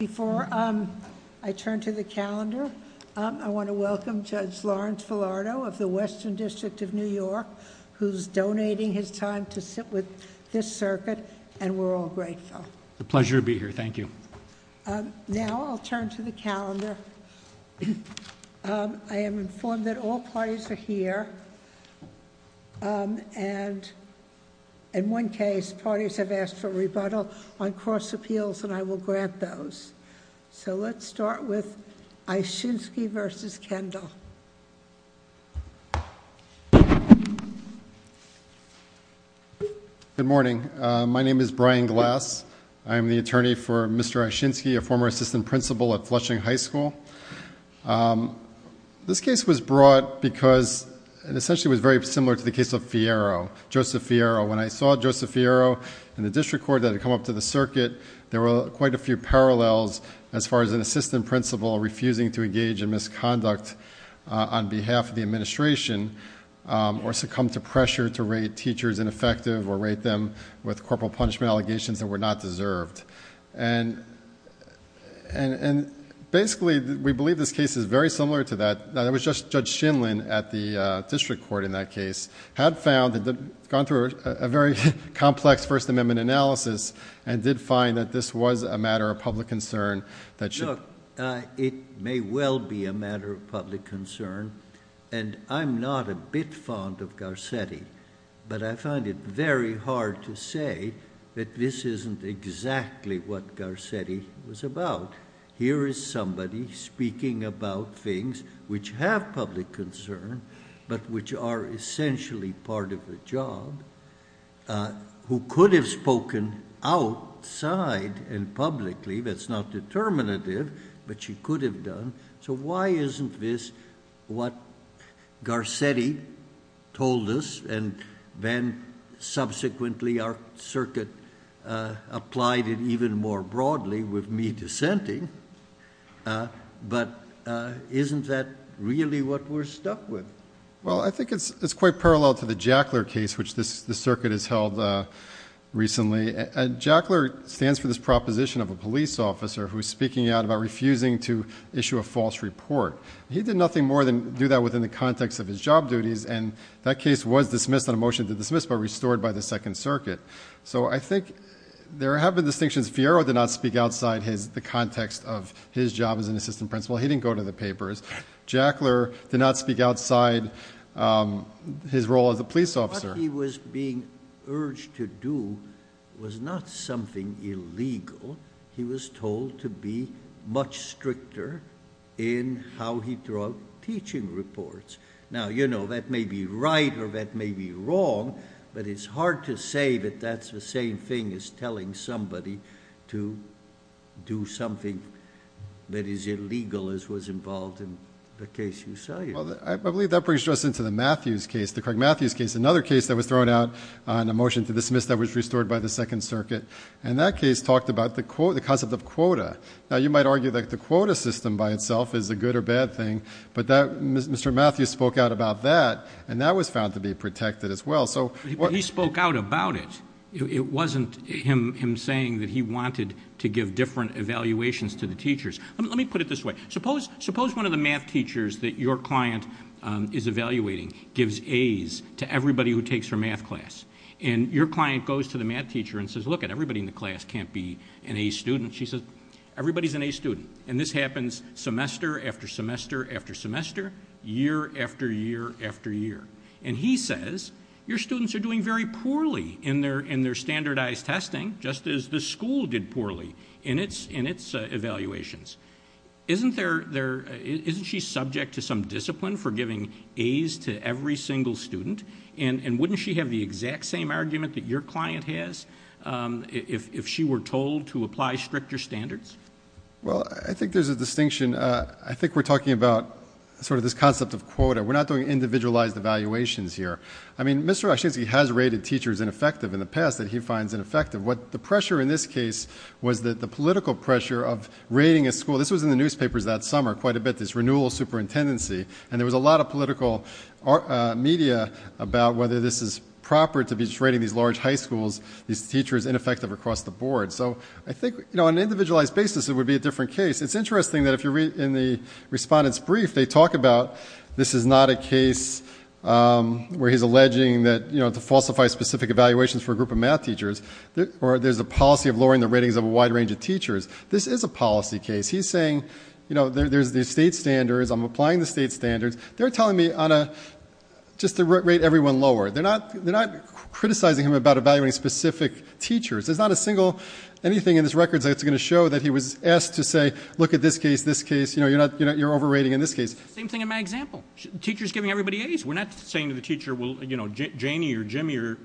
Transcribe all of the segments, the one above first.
Before I turn to the calendar, I want to welcome Judge Lawrence Filardo of the Western District of New York, who's donating his time to sit with this circuit. And we're all grateful. The pleasure to be here. Thank you. Now I'll turn to the calendar. I am informed that all parties are here. And in one case, parties have asked for rebuttal on cross appeals, and I will grant those. So let's start with Eyshinskiy v. Kendall. Good morning. My name is Brian Glass. I am the attorney for Mr. Eyshinskiy, a former assistant principal at Flushing High School. This case was brought because it essentially was very similar to the case of Fierro, Joseph Fierro. When I saw Joseph Fierro in the district court that had come up to the circuit, there were quite a few parallels as far as an assistant principal refusing to engage in misconduct on behalf of the administration, or succumb to pressure to rate teachers ineffective or rate them with corporal punishment allegations that were not deserved. And basically, we believe this case is very similar to that. It was just Judge Shinlin at the district court in that case had found that, had gone through a very complex First Amendment analysis, and did find that this was a matter of public concern that should... Look, it may well be a matter of public concern, and I'm not a bit fond of Garcetti, but I find it very hard to say that this isn't exactly what Garcetti was about. Here is somebody speaking about things which have public concern, but which are essentially part of the job, who could have spoken outside and publicly. That's not determinative, but she could have done. So why isn't this what Garcetti told us, and then subsequently our circuit applied it even more broadly with me dissenting? But isn't that really what we're stuck with? Well, I think it's quite parallel to the Jackler case, which this circuit has held recently. Jackler stands for this proposition of a police officer who's speaking out about refusing to issue a false report. He did nothing more than do that within the context of his job duties, and that case was dismissed on a motion to dismiss, but restored by the Second Circuit. So I think there have been distinctions. Fiero did not speak outside the context of his job as an assistant principal. He did not speak outside his role as a police officer. What he was being urged to do was not something illegal. He was told to be much stricter in how he drew up teaching reports. Now, you know, that may be right or that may be wrong, but it's hard to say that that's the same thing as telling somebody to do something that is illegal as was involved in the case you tell you. Well, I believe that brings us into the Matthews case, the Craig Matthews case, another case that was thrown out on a motion to dismiss that was restored by the Second Circuit, and that case talked about the concept of quota. Now, you might argue that the quota system by itself is a good or bad thing, but Mr. Matthews spoke out about that, and that was found to be protected as well. But he spoke out about it. It wasn't him saying that he wanted to give different evaluations to the teachers. Let me put it this way. Suppose one of the math teachers that your client is evaluating gives A's to everybody who takes her math class, and your client goes to the math teacher and says, look at everybody in the class can't be an A student. She says, everybody's an A student, and this happens semester after semester after semester, year after year after year, and he says your students are doing very poorly in their standardized testing, just as the school did poorly in its evaluations. Isn't she subject to some discipline for giving A's to every single student, and wouldn't she have the exact same argument that your client has if she were told to apply stricter standards? Well, I think there's a distinction. I think we're talking about this concept of quota. We're not doing individualized evaluations here. I mean, Mr. Oshinsky has rated teachers ineffective in the past that he finds ineffective. The pressure in this case was that the political pressure of rating a school. This was in the newspapers that summer quite a bit, this renewal of superintendency, and there was a lot of political media about whether this is proper to be rating these large high schools, these teachers ineffective across the board. So I think on an individualized basis, it would be a different case. It's interesting that if you read in the respondent's brief, they talk about this is not a case where he's alleging that to falsify specific evaluations for a group of math teachers, or there's a policy of lowering the ratings of a wide range of teachers. This is a policy case. He's saying there's the state standards. I'm applying the state standards. They're telling me just to rate everyone lower. They're not criticizing him about evaluating specific teachers. There's not a single anything in this record that's going to show that he was asked to say, look at this case, this case. You're overrating in this case. Same thing in my example. The teacher's giving everybody A's. We're not saying to the teacher, well, Janie or Jimmy or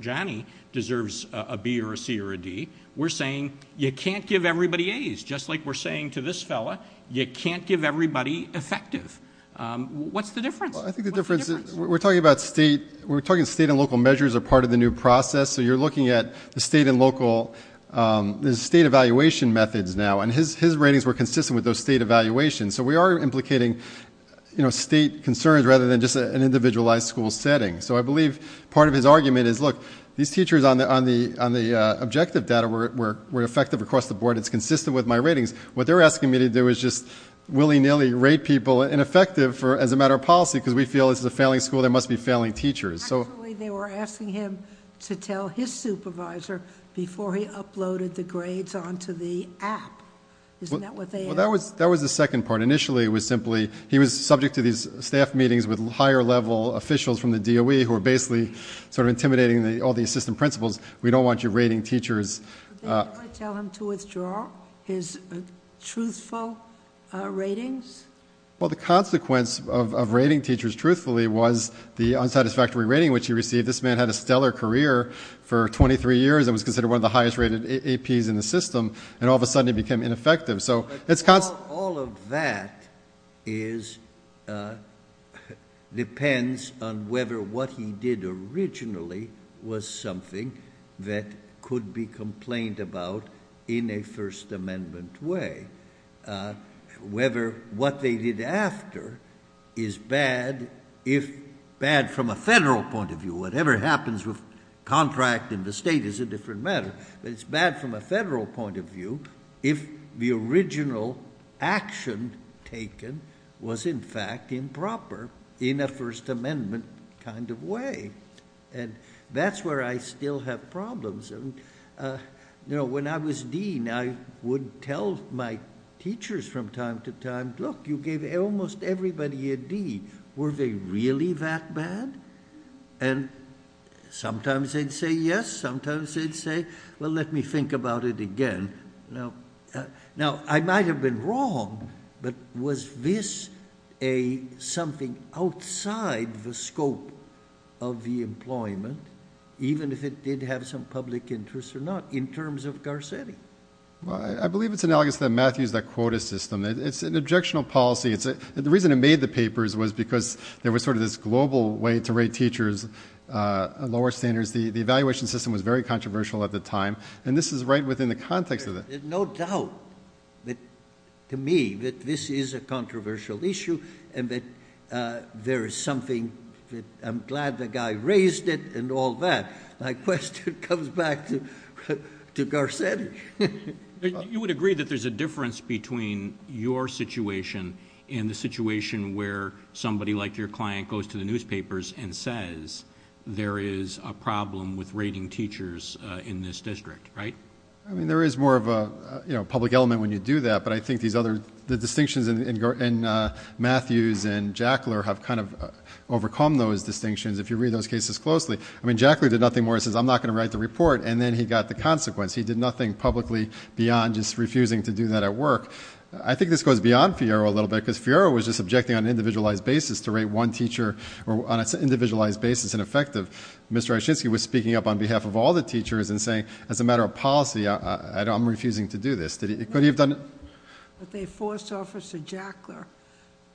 you can't give everybody A's. Just like we're saying to this fella, you can't give everybody effective. What's the difference? I think the difference is we're talking about state. We're talking state and local measures are part of the new process. So you're looking at the state and local state evaluation methods now, and his ratings were consistent with those state evaluations. So we are implicating state concerns rather than just an individualized school setting. So I believe part of his argument is, look, these across the board. It's consistent with my ratings. What they're asking me to do is just willy-nilly rate people ineffective as a matter of policy, because we feel this is a failing school. There must be failing teachers. Actually, they were asking him to tell his supervisor before he uploaded the grades onto the app. Isn't that what they asked? That was the second part. Initially, it was simply he was subject to these staff meetings with higher level officials from the DOE who are basically sort of intimidating all the assistant principals. We don't want you rating teachers. Did the DOE tell him to withdraw his truthful ratings? Well, the consequence of rating teachers truthfully was the unsatisfactory rating which he received. This man had a stellar career for 23 years and was considered one of the highest rated APs in the system, and all of a sudden he became ineffective. So it's constant. All of that depends on whether what he did originally was something that could be complained about in a First Amendment way, whether what they did after is bad from a federal point of view. Whatever happens with contract in the state is a different matter, but it's bad from a federal point of view if the original action taken was, in fact, improper in a First Amendment kind of way. That's where I still have problems. When I was dean, I would tell my teachers from time to time, look, you gave almost everybody a D. Were they really that bad? Sometimes they'd say yes. Sometimes they'd say, well, let me think about it again. Now, I might have been wrong, but was this something outside the scope of the employment, even if it did have some public interest or not, in terms of Garcetti? Well, I believe it's analogous to the Matthews Dakota system. It's an objectionable policy. The reason it made the papers was because there was sort of this global way to rate teachers, lower standards. The evaluation system was very controversial at the time, and this is right within the... No doubt, to me, that this is a controversial issue and that there is something... I'm glad the guy raised it and all that. My question comes back to Garcetti..... You would agree that there's a difference between your situation and the situation where somebody like your client goes to the newspapers and says there is a problem with rating teachers in this district, right? I mean, there is more of a public element when you do that, but I think the distinctions in Matthews and Jackler have kind of overcome those distinctions if you read those cases closely. I mean, Jackler did nothing more. He says, I'm not going to write the report, and then he got the consequence. He did nothing publicly beyond just refusing to do that at work. I think this goes beyond Fierro a little bit, because Fierro was just objecting on an individualized basis to rate one teacher on an individualized basis ineffective. Mr. Oshinsky was speaking up on I'm refusing to do this. No, but they forced Officer Jackler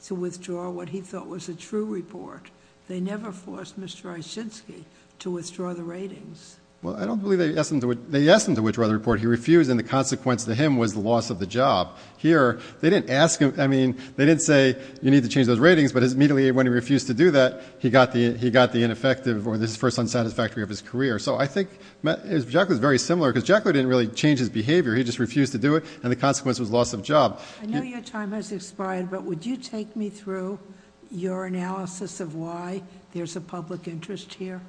to withdraw what he thought was a true report. They never forced Mr. Oshinsky to withdraw the ratings. Well, I don't believe they asked him to withdraw the report. He refused, and the consequence to him was the loss of the job. Here, they didn't ask him. I mean, they didn't say you need to change those ratings, but immediately when he refused to do that, he got the ineffective or this first unsatisfactory of his career. I think Jack was very similar, because Jack didn't really change his behavior. He just refused to do it, and the consequence was loss of job. I know your time has expired, but would you take me through your analysis of why there's a public interest here?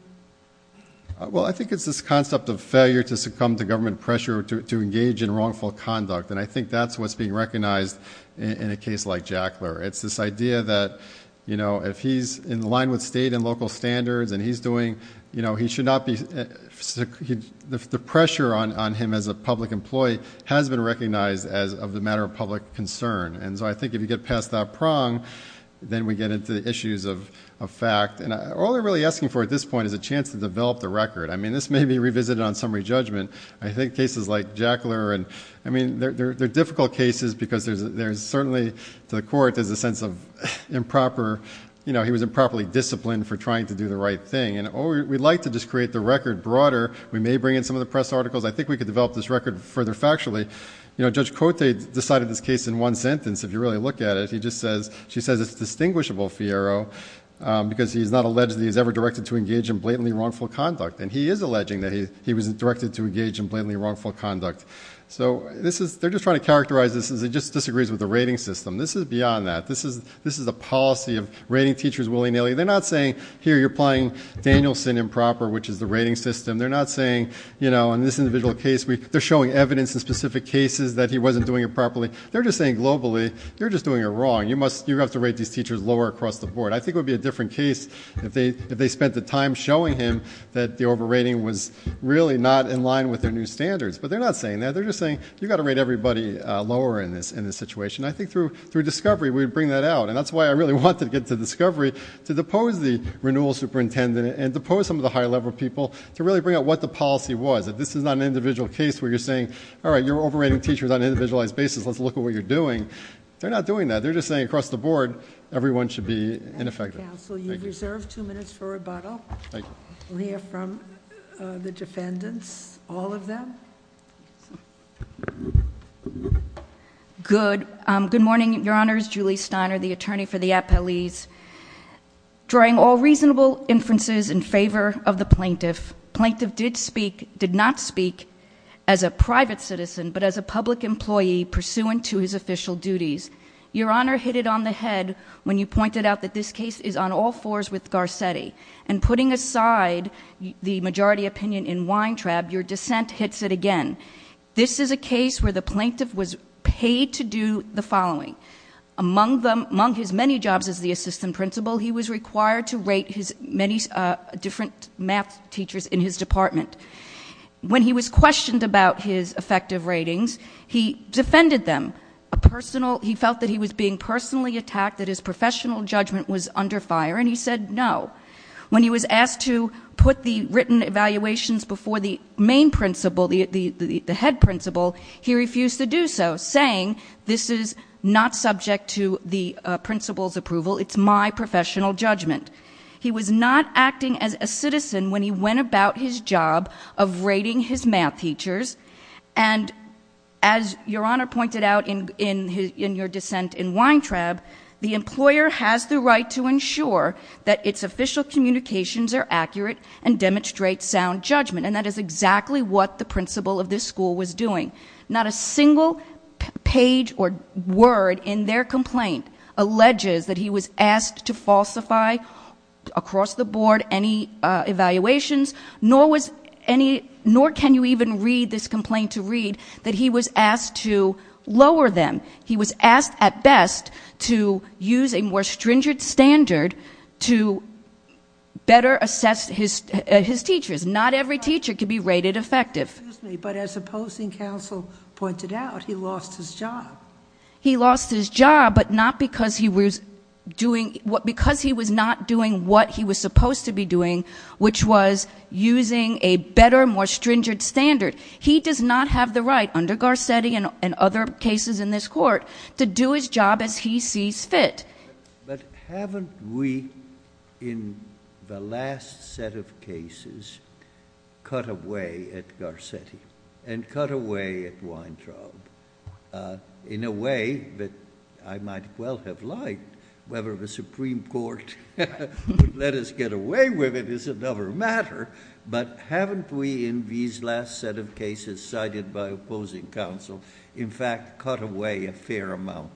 Well, I think it's this concept of failure to succumb to government pressure to engage in wrongful conduct, and I think that's what's being recognized in a case like Jackler. It's this idea that if he's in line with state and local standards, the pressure on him as a public employee has been recognized as of the matter of public concern. And so I think if you get past that prong, then we get into the issues of fact, and all they're really asking for at this point is a chance to develop the record. I mean, this may be revisited on summary judgment. I think cases like Jackler, and I mean, they're difficult cases, because there's certainly to the court, there's a sense of improper, you know, he was improperly disciplined for trying to do the right thing. And we'd like to just create the record broader. We may bring in some of the press articles. I think we could develop this record further factually. You know, Judge Cote decided this case in one sentence. If you really look at it, he just says, she says, it's distinguishable, Fierro, because he's not alleged that he's ever directed to engage in blatantly wrongful conduct. And he is alleging that he was directed to engage in blatantly wrongful conduct. So they're just trying to characterize this as it just disagrees with the rating system. This is beyond that. This is a policy of rating teachers willy-nilly. They're not saying, here, you're playing Danielson improper, which is the rating system. They're not saying, you know, in this individual case, they're showing evidence in specific cases that he wasn't doing it properly. They're just saying, globally, you're just doing it wrong. You have to rate these teachers lower across the board. I think it would be a different case if they spent the time showing him that the overrating was really not in line with their new standards. But they're not saying that. They're just saying, you've got to rate everybody lower in this situation. I think through discovery, we would bring that out. And that's why I really wanted to get to discovery, to depose the renewal superintendent and depose some of the higher level people to really bring out what the policy was, that this is not an individual case where you're saying, all right, you're overrating teachers on an individualized basis. Let's look at what you're doing. They're not doing that. They're just saying across the board, everyone should be ineffective. At the council, you've reserved two minutes for rebuttal. Thank you. We'll hear from the defendants, all of them. Good. Good morning, Your Honors. Julie Steiner, the attorney for the appellees. Drawing all reasonable inferences in favor of the plaintiff, plaintiff did speak, did not speak as a private citizen, but as a public employee pursuant to his official duties. Your Honor hit it on the head when you pointed out that this case is on all fours with Garcetti. And putting aside the majority opinion in Weintraub, your dissent hits it again. This is a case where the plaintiff was paid to do the among his many jobs as the assistant principal, he was required to rate his many different math teachers in his department. When he was questioned about his effective ratings, he defended them. He felt that he was being personally attacked, that his professional judgment was under fire. And he said no. When he was asked to put the written evaluations before the main principal, the head principal, he refused to do so, saying this is not subject to the principal's approval. It's my professional judgment. He was not acting as a citizen when he went about his job of rating his math teachers. And as your Honor pointed out in your dissent in Weintraub, the employer has the right to ensure that its official communications are accurate and demonstrate sound judgment. And that is exactly what the principal of this school was Not a single page or word in their complaint alleges that he was asked to falsify across the board any evaluations, nor can you even read this complaint to read that he was asked to lower them. He was asked at best to use a more stringent standard to better assess his teachers. Not every teacher could be rated effective. But as opposing counsel pointed out, he lost his job. He lost his job, but not because he was doing what because he was not doing what he was supposed to be doing, which was using a better, more stringent standard. He does not have the right under Garcetti and other cases in this court to do his job as he sees fit. But haven't we, in the last set of cases, cut away at Garcetti and cut away at Weintraub in a way that I might well have liked, whether the Supreme Court would let us get away with it is another matter. But haven't we, in these last set of cases cited by opposing counsel, in fact cut away a fair amount?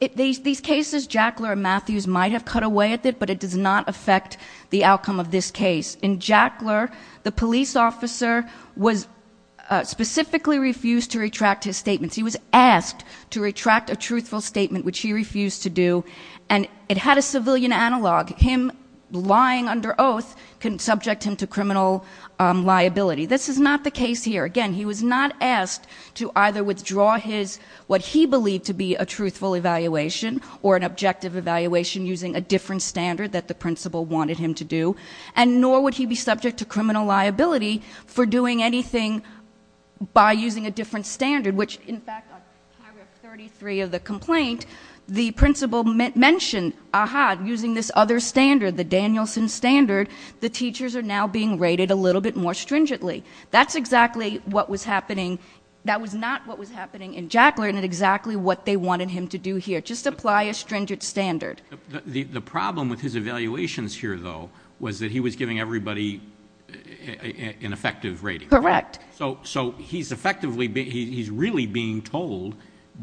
In these cases, Jackler and Matthews might have cut away at it, but it does not affect the outcome of this case. In Jackler, the police officer was specifically refused to retract his statements. He was asked to retract a truthful statement, which he refused to do. And it had a civilian analog. Him lying under oath can subject him to criminal liability. This is not the case here. Again, he was not asked to either withdraw his, what he believed to be a truthful evaluation or an objective evaluation using a different standard that the principal wanted him to do. And nor would he be subject to criminal liability for doing anything by using a different standard, which, in fact, on paragraph 33 of the complaint, the principal mentioned, aha, using this other standard, the Danielson standard, the teachers are now being rated a little bit more stringently. That's exactly what was happening. That was not what was happening in Jackler and exactly what they wanted him to do here. Just apply a stringent standard. The problem with his evaluations here, though, was that he was giving everybody an effective rating. Correct. So, so he's effectively, he's really being told,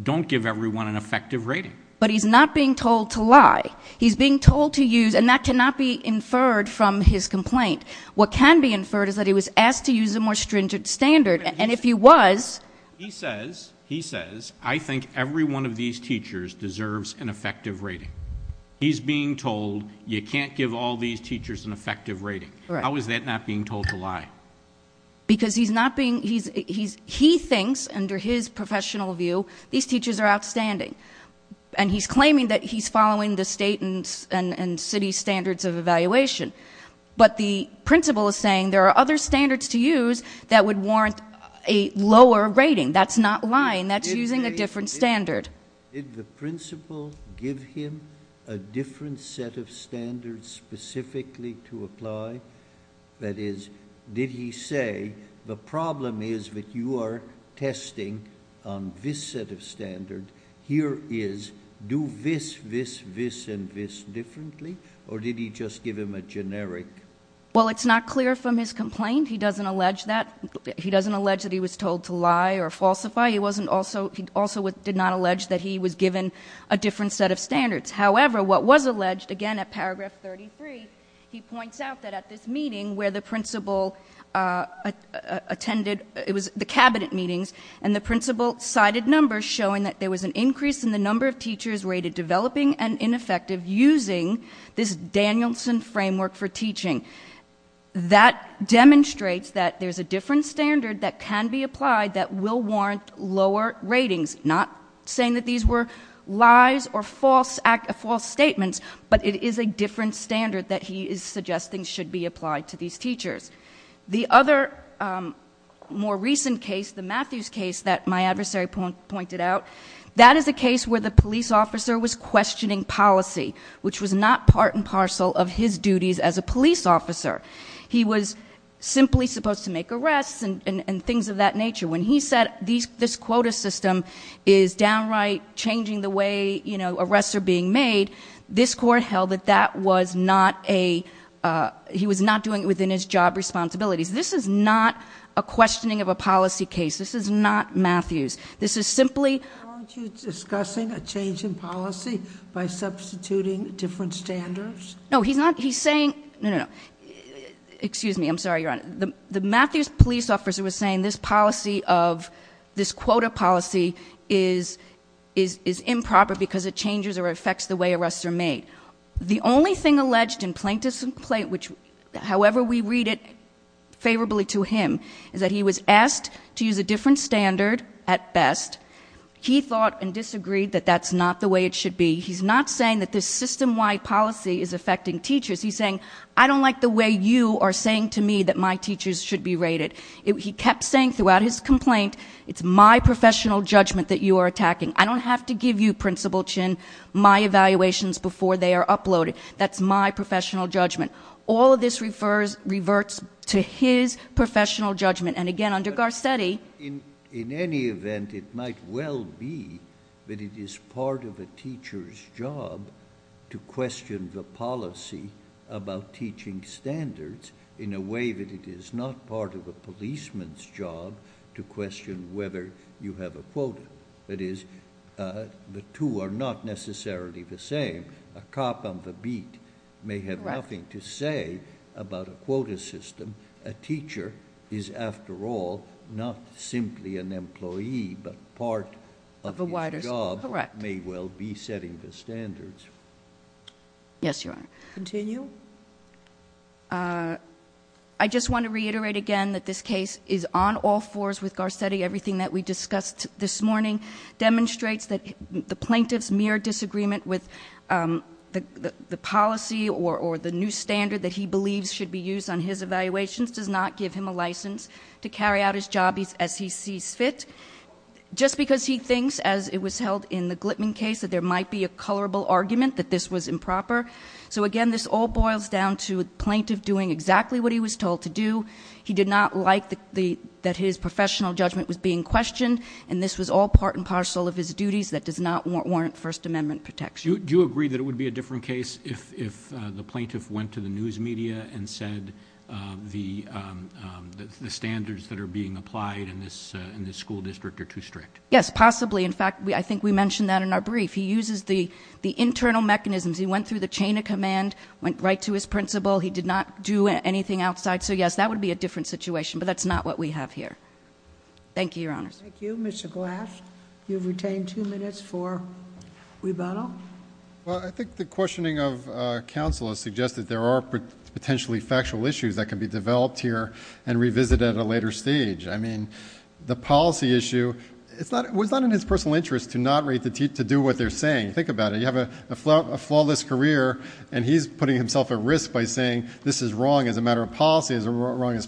don't give everyone an effective rating. But he's not being told to lie. He's being told to use, and that cannot be inferred from his complaint. What can be inferred is that he was asked to use a more stringent standard. And if he was. He says, he says, I think every one of these teachers deserves an effective rating. He's being told you can't give all these teachers an effective rating. How is that not being told to lie? Because he's not being, he's, he's, he thinks under his professional view, these teachers are outstanding and he's claiming that he's following the state and city standards of evaluation. But the principal is saying there are other standards to that would warrant a lower rating. That's not lying. That's using a different standard. Did the principal give him a different set of standards specifically to apply? That is, did he say the problem is that you are testing on this set of standard here is do this, this, this, and this differently? Or did he just give him a generic? Well, it's not clear from his complaint. He doesn't allege that he doesn't allege that he was told to lie or falsify. He wasn't also, he also did not allege that he was given a different set of standards. However, what was alleged again at paragraph 33, he points out that at this meeting where the principal attended, it was the cabinet meetings and the principal cited numbers showing that there was an increase in the number of teachers rated developing and ineffective using this Danielson framework for teaching. That demonstrates that there's a different standard that can be applied that will warrant lower ratings. Not saying that these were lies or false statements, but it is a different standard that he is suggesting should be applied to these teachers. The other more recent case, the Matthews case that my adversary pointed out, that is a case where the police officer was questioning policy, which was not part and parcel of his officer. He was simply supposed to make arrests and things of that nature. When he said, this quota system is downright changing the way, you know, arrests are being made. This court held that that was not a, he was not doing it within his job responsibilities. This is not a questioning of a policy case. This is not Matthews. This is simply- Aren't you discussing a change in policy by substituting different standards? No, he's not. He's saying, no, no, no. Excuse me. I'm sorry, Your Honor. The Matthews police officer was saying this policy of this quota policy is improper because it changes or affects the way arrests are made. The only thing alleged in plaintiff's complaint, which however we read it favorably to him, is that he was asked to use a different standard at best. He thought and disagreed that that's not the way it should be. He's not saying that this system-wide policy is affecting teachers. He's saying, I don't like the way you are saying to me that my teachers should be rated. He kept saying throughout his complaint, it's my professional judgment that you are attacking. I don't have to give you, Principal Chin, my evaluations before they are uploaded. That's my professional judgment. All of this refers, reverts to his professional judgment. And again, under Garcetti- It is the teacher's job to question the policy about teaching standards in a way that it is not part of a policeman's job to question whether you have a quota. That is, the two are not necessarily the same. A cop on the beat may have nothing to say about a quota system. A teacher is after all, not simply an employee, but part of a wider system. Correct. His job may well be setting the standards. Yes, Your Honor. Continue. I just want to reiterate again that this case is on all fours with Garcetti. Everything that we discussed this morning demonstrates that the plaintiff's mere disagreement with the policy or the new standard that he believes should be used on his evaluations does not give him a license to carry out his job as he sees fit. Just because he thinks, as it was held in the Glitman case, that there might be a colorable argument that this was improper. So again, this all boils down to a plaintiff doing exactly what he was told to do. He did not like that his professional judgment was being questioned, and this was all part and parcel of his duties that does not warrant First Amendment protection. Do you agree that it would be a different case if the plaintiff went to the news media and said the standards that are being Yes, possibly. In fact, I think we mentioned that in our brief. He uses the internal mechanisms. He went through the chain of command, went right to his principal. He did not do anything outside. So yes, that would be a different situation, but that's not what we have here. Thank you, Your Honor. Thank you. Mr. Glass, you've retained two minutes for rebuttal. Well, I think the questioning of counsel has suggested there are potentially factual issues that can be developed here and revisited at a later stage. The policy issue was not in his personal interest to not rate to do what they're saying. Think about it. You have a flawless career, and he's putting himself at risk by saying this is wrong as a matter of policy, as a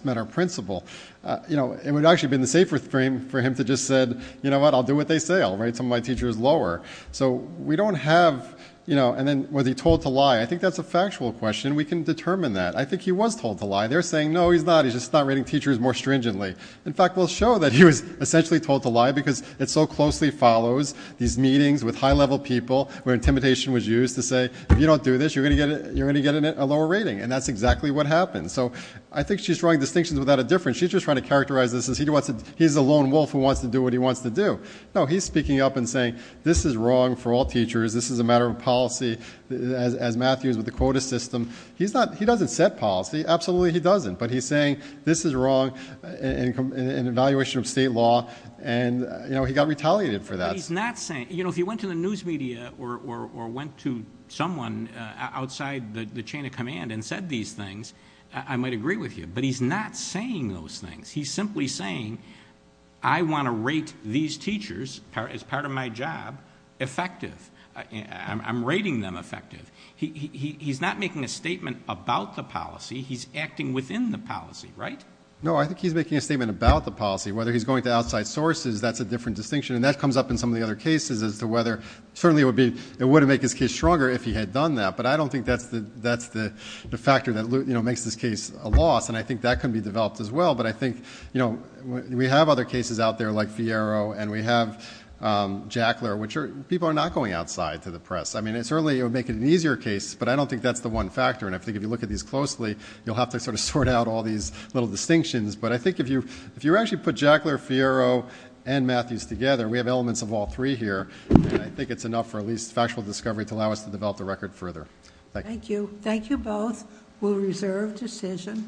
matter of principle. It would actually have been the safer thing for him to just said, you know what? I'll do what they say. I'll rate some of my teachers lower. So we don't have, and then was he told to lie? I think that's a factual question. We can determine that. I think he was told to lie. They're saying, no, he's not. He's just not rating teachers more stringently. In fact, we'll show that he was essentially told to lie, because it so closely follows these meetings with high level people where intimidation was used to say, if you don't do this, you're going to get a lower rating. And that's exactly what happened. So I think she's drawing distinctions without a difference. She's just trying to characterize this as he's a lone wolf who wants to do what he wants to do. No, he's speaking up and saying, this is wrong for all teachers. This is a matter of policy, as Matthews with the quota system. He doesn't set policy. Absolutely, he doesn't. But he's saying, this is wrong, an evaluation of state law, and he got retaliated for that. But he's not saying, if you went to the news media or went to someone outside the chain of command and said these things, I might agree with you. But he's not saying those things. He's simply saying, I want to rate these teachers, as part of my job, effective. I'm rating them effective. He's not making a statement about the policy. He's acting within the policy, right? No, I think he's making a statement about the policy. Whether he's going to outside sources, that's a different distinction. And that comes up in some of the other cases as to whether, certainly it would make his case stronger if he had done that. But I don't think that's the factor that makes this case a loss. And I think that can be developed as well. But I think we have other cases out there, like Fierro, and we have Jackler, which people are not going outside to the press. I mean, certainly it would make it an easier case. But I don't think that's the one factor. And I think if you look at these closely, you'll have to sort of sort out all these little distinctions. But I think if you actually put Jackler, Fierro, and Matthews together, we have elements of all three here. And I think it's enough for at least factual discovery to allow us to develop the record further. Thank you. Thank you both. We'll reserve decision.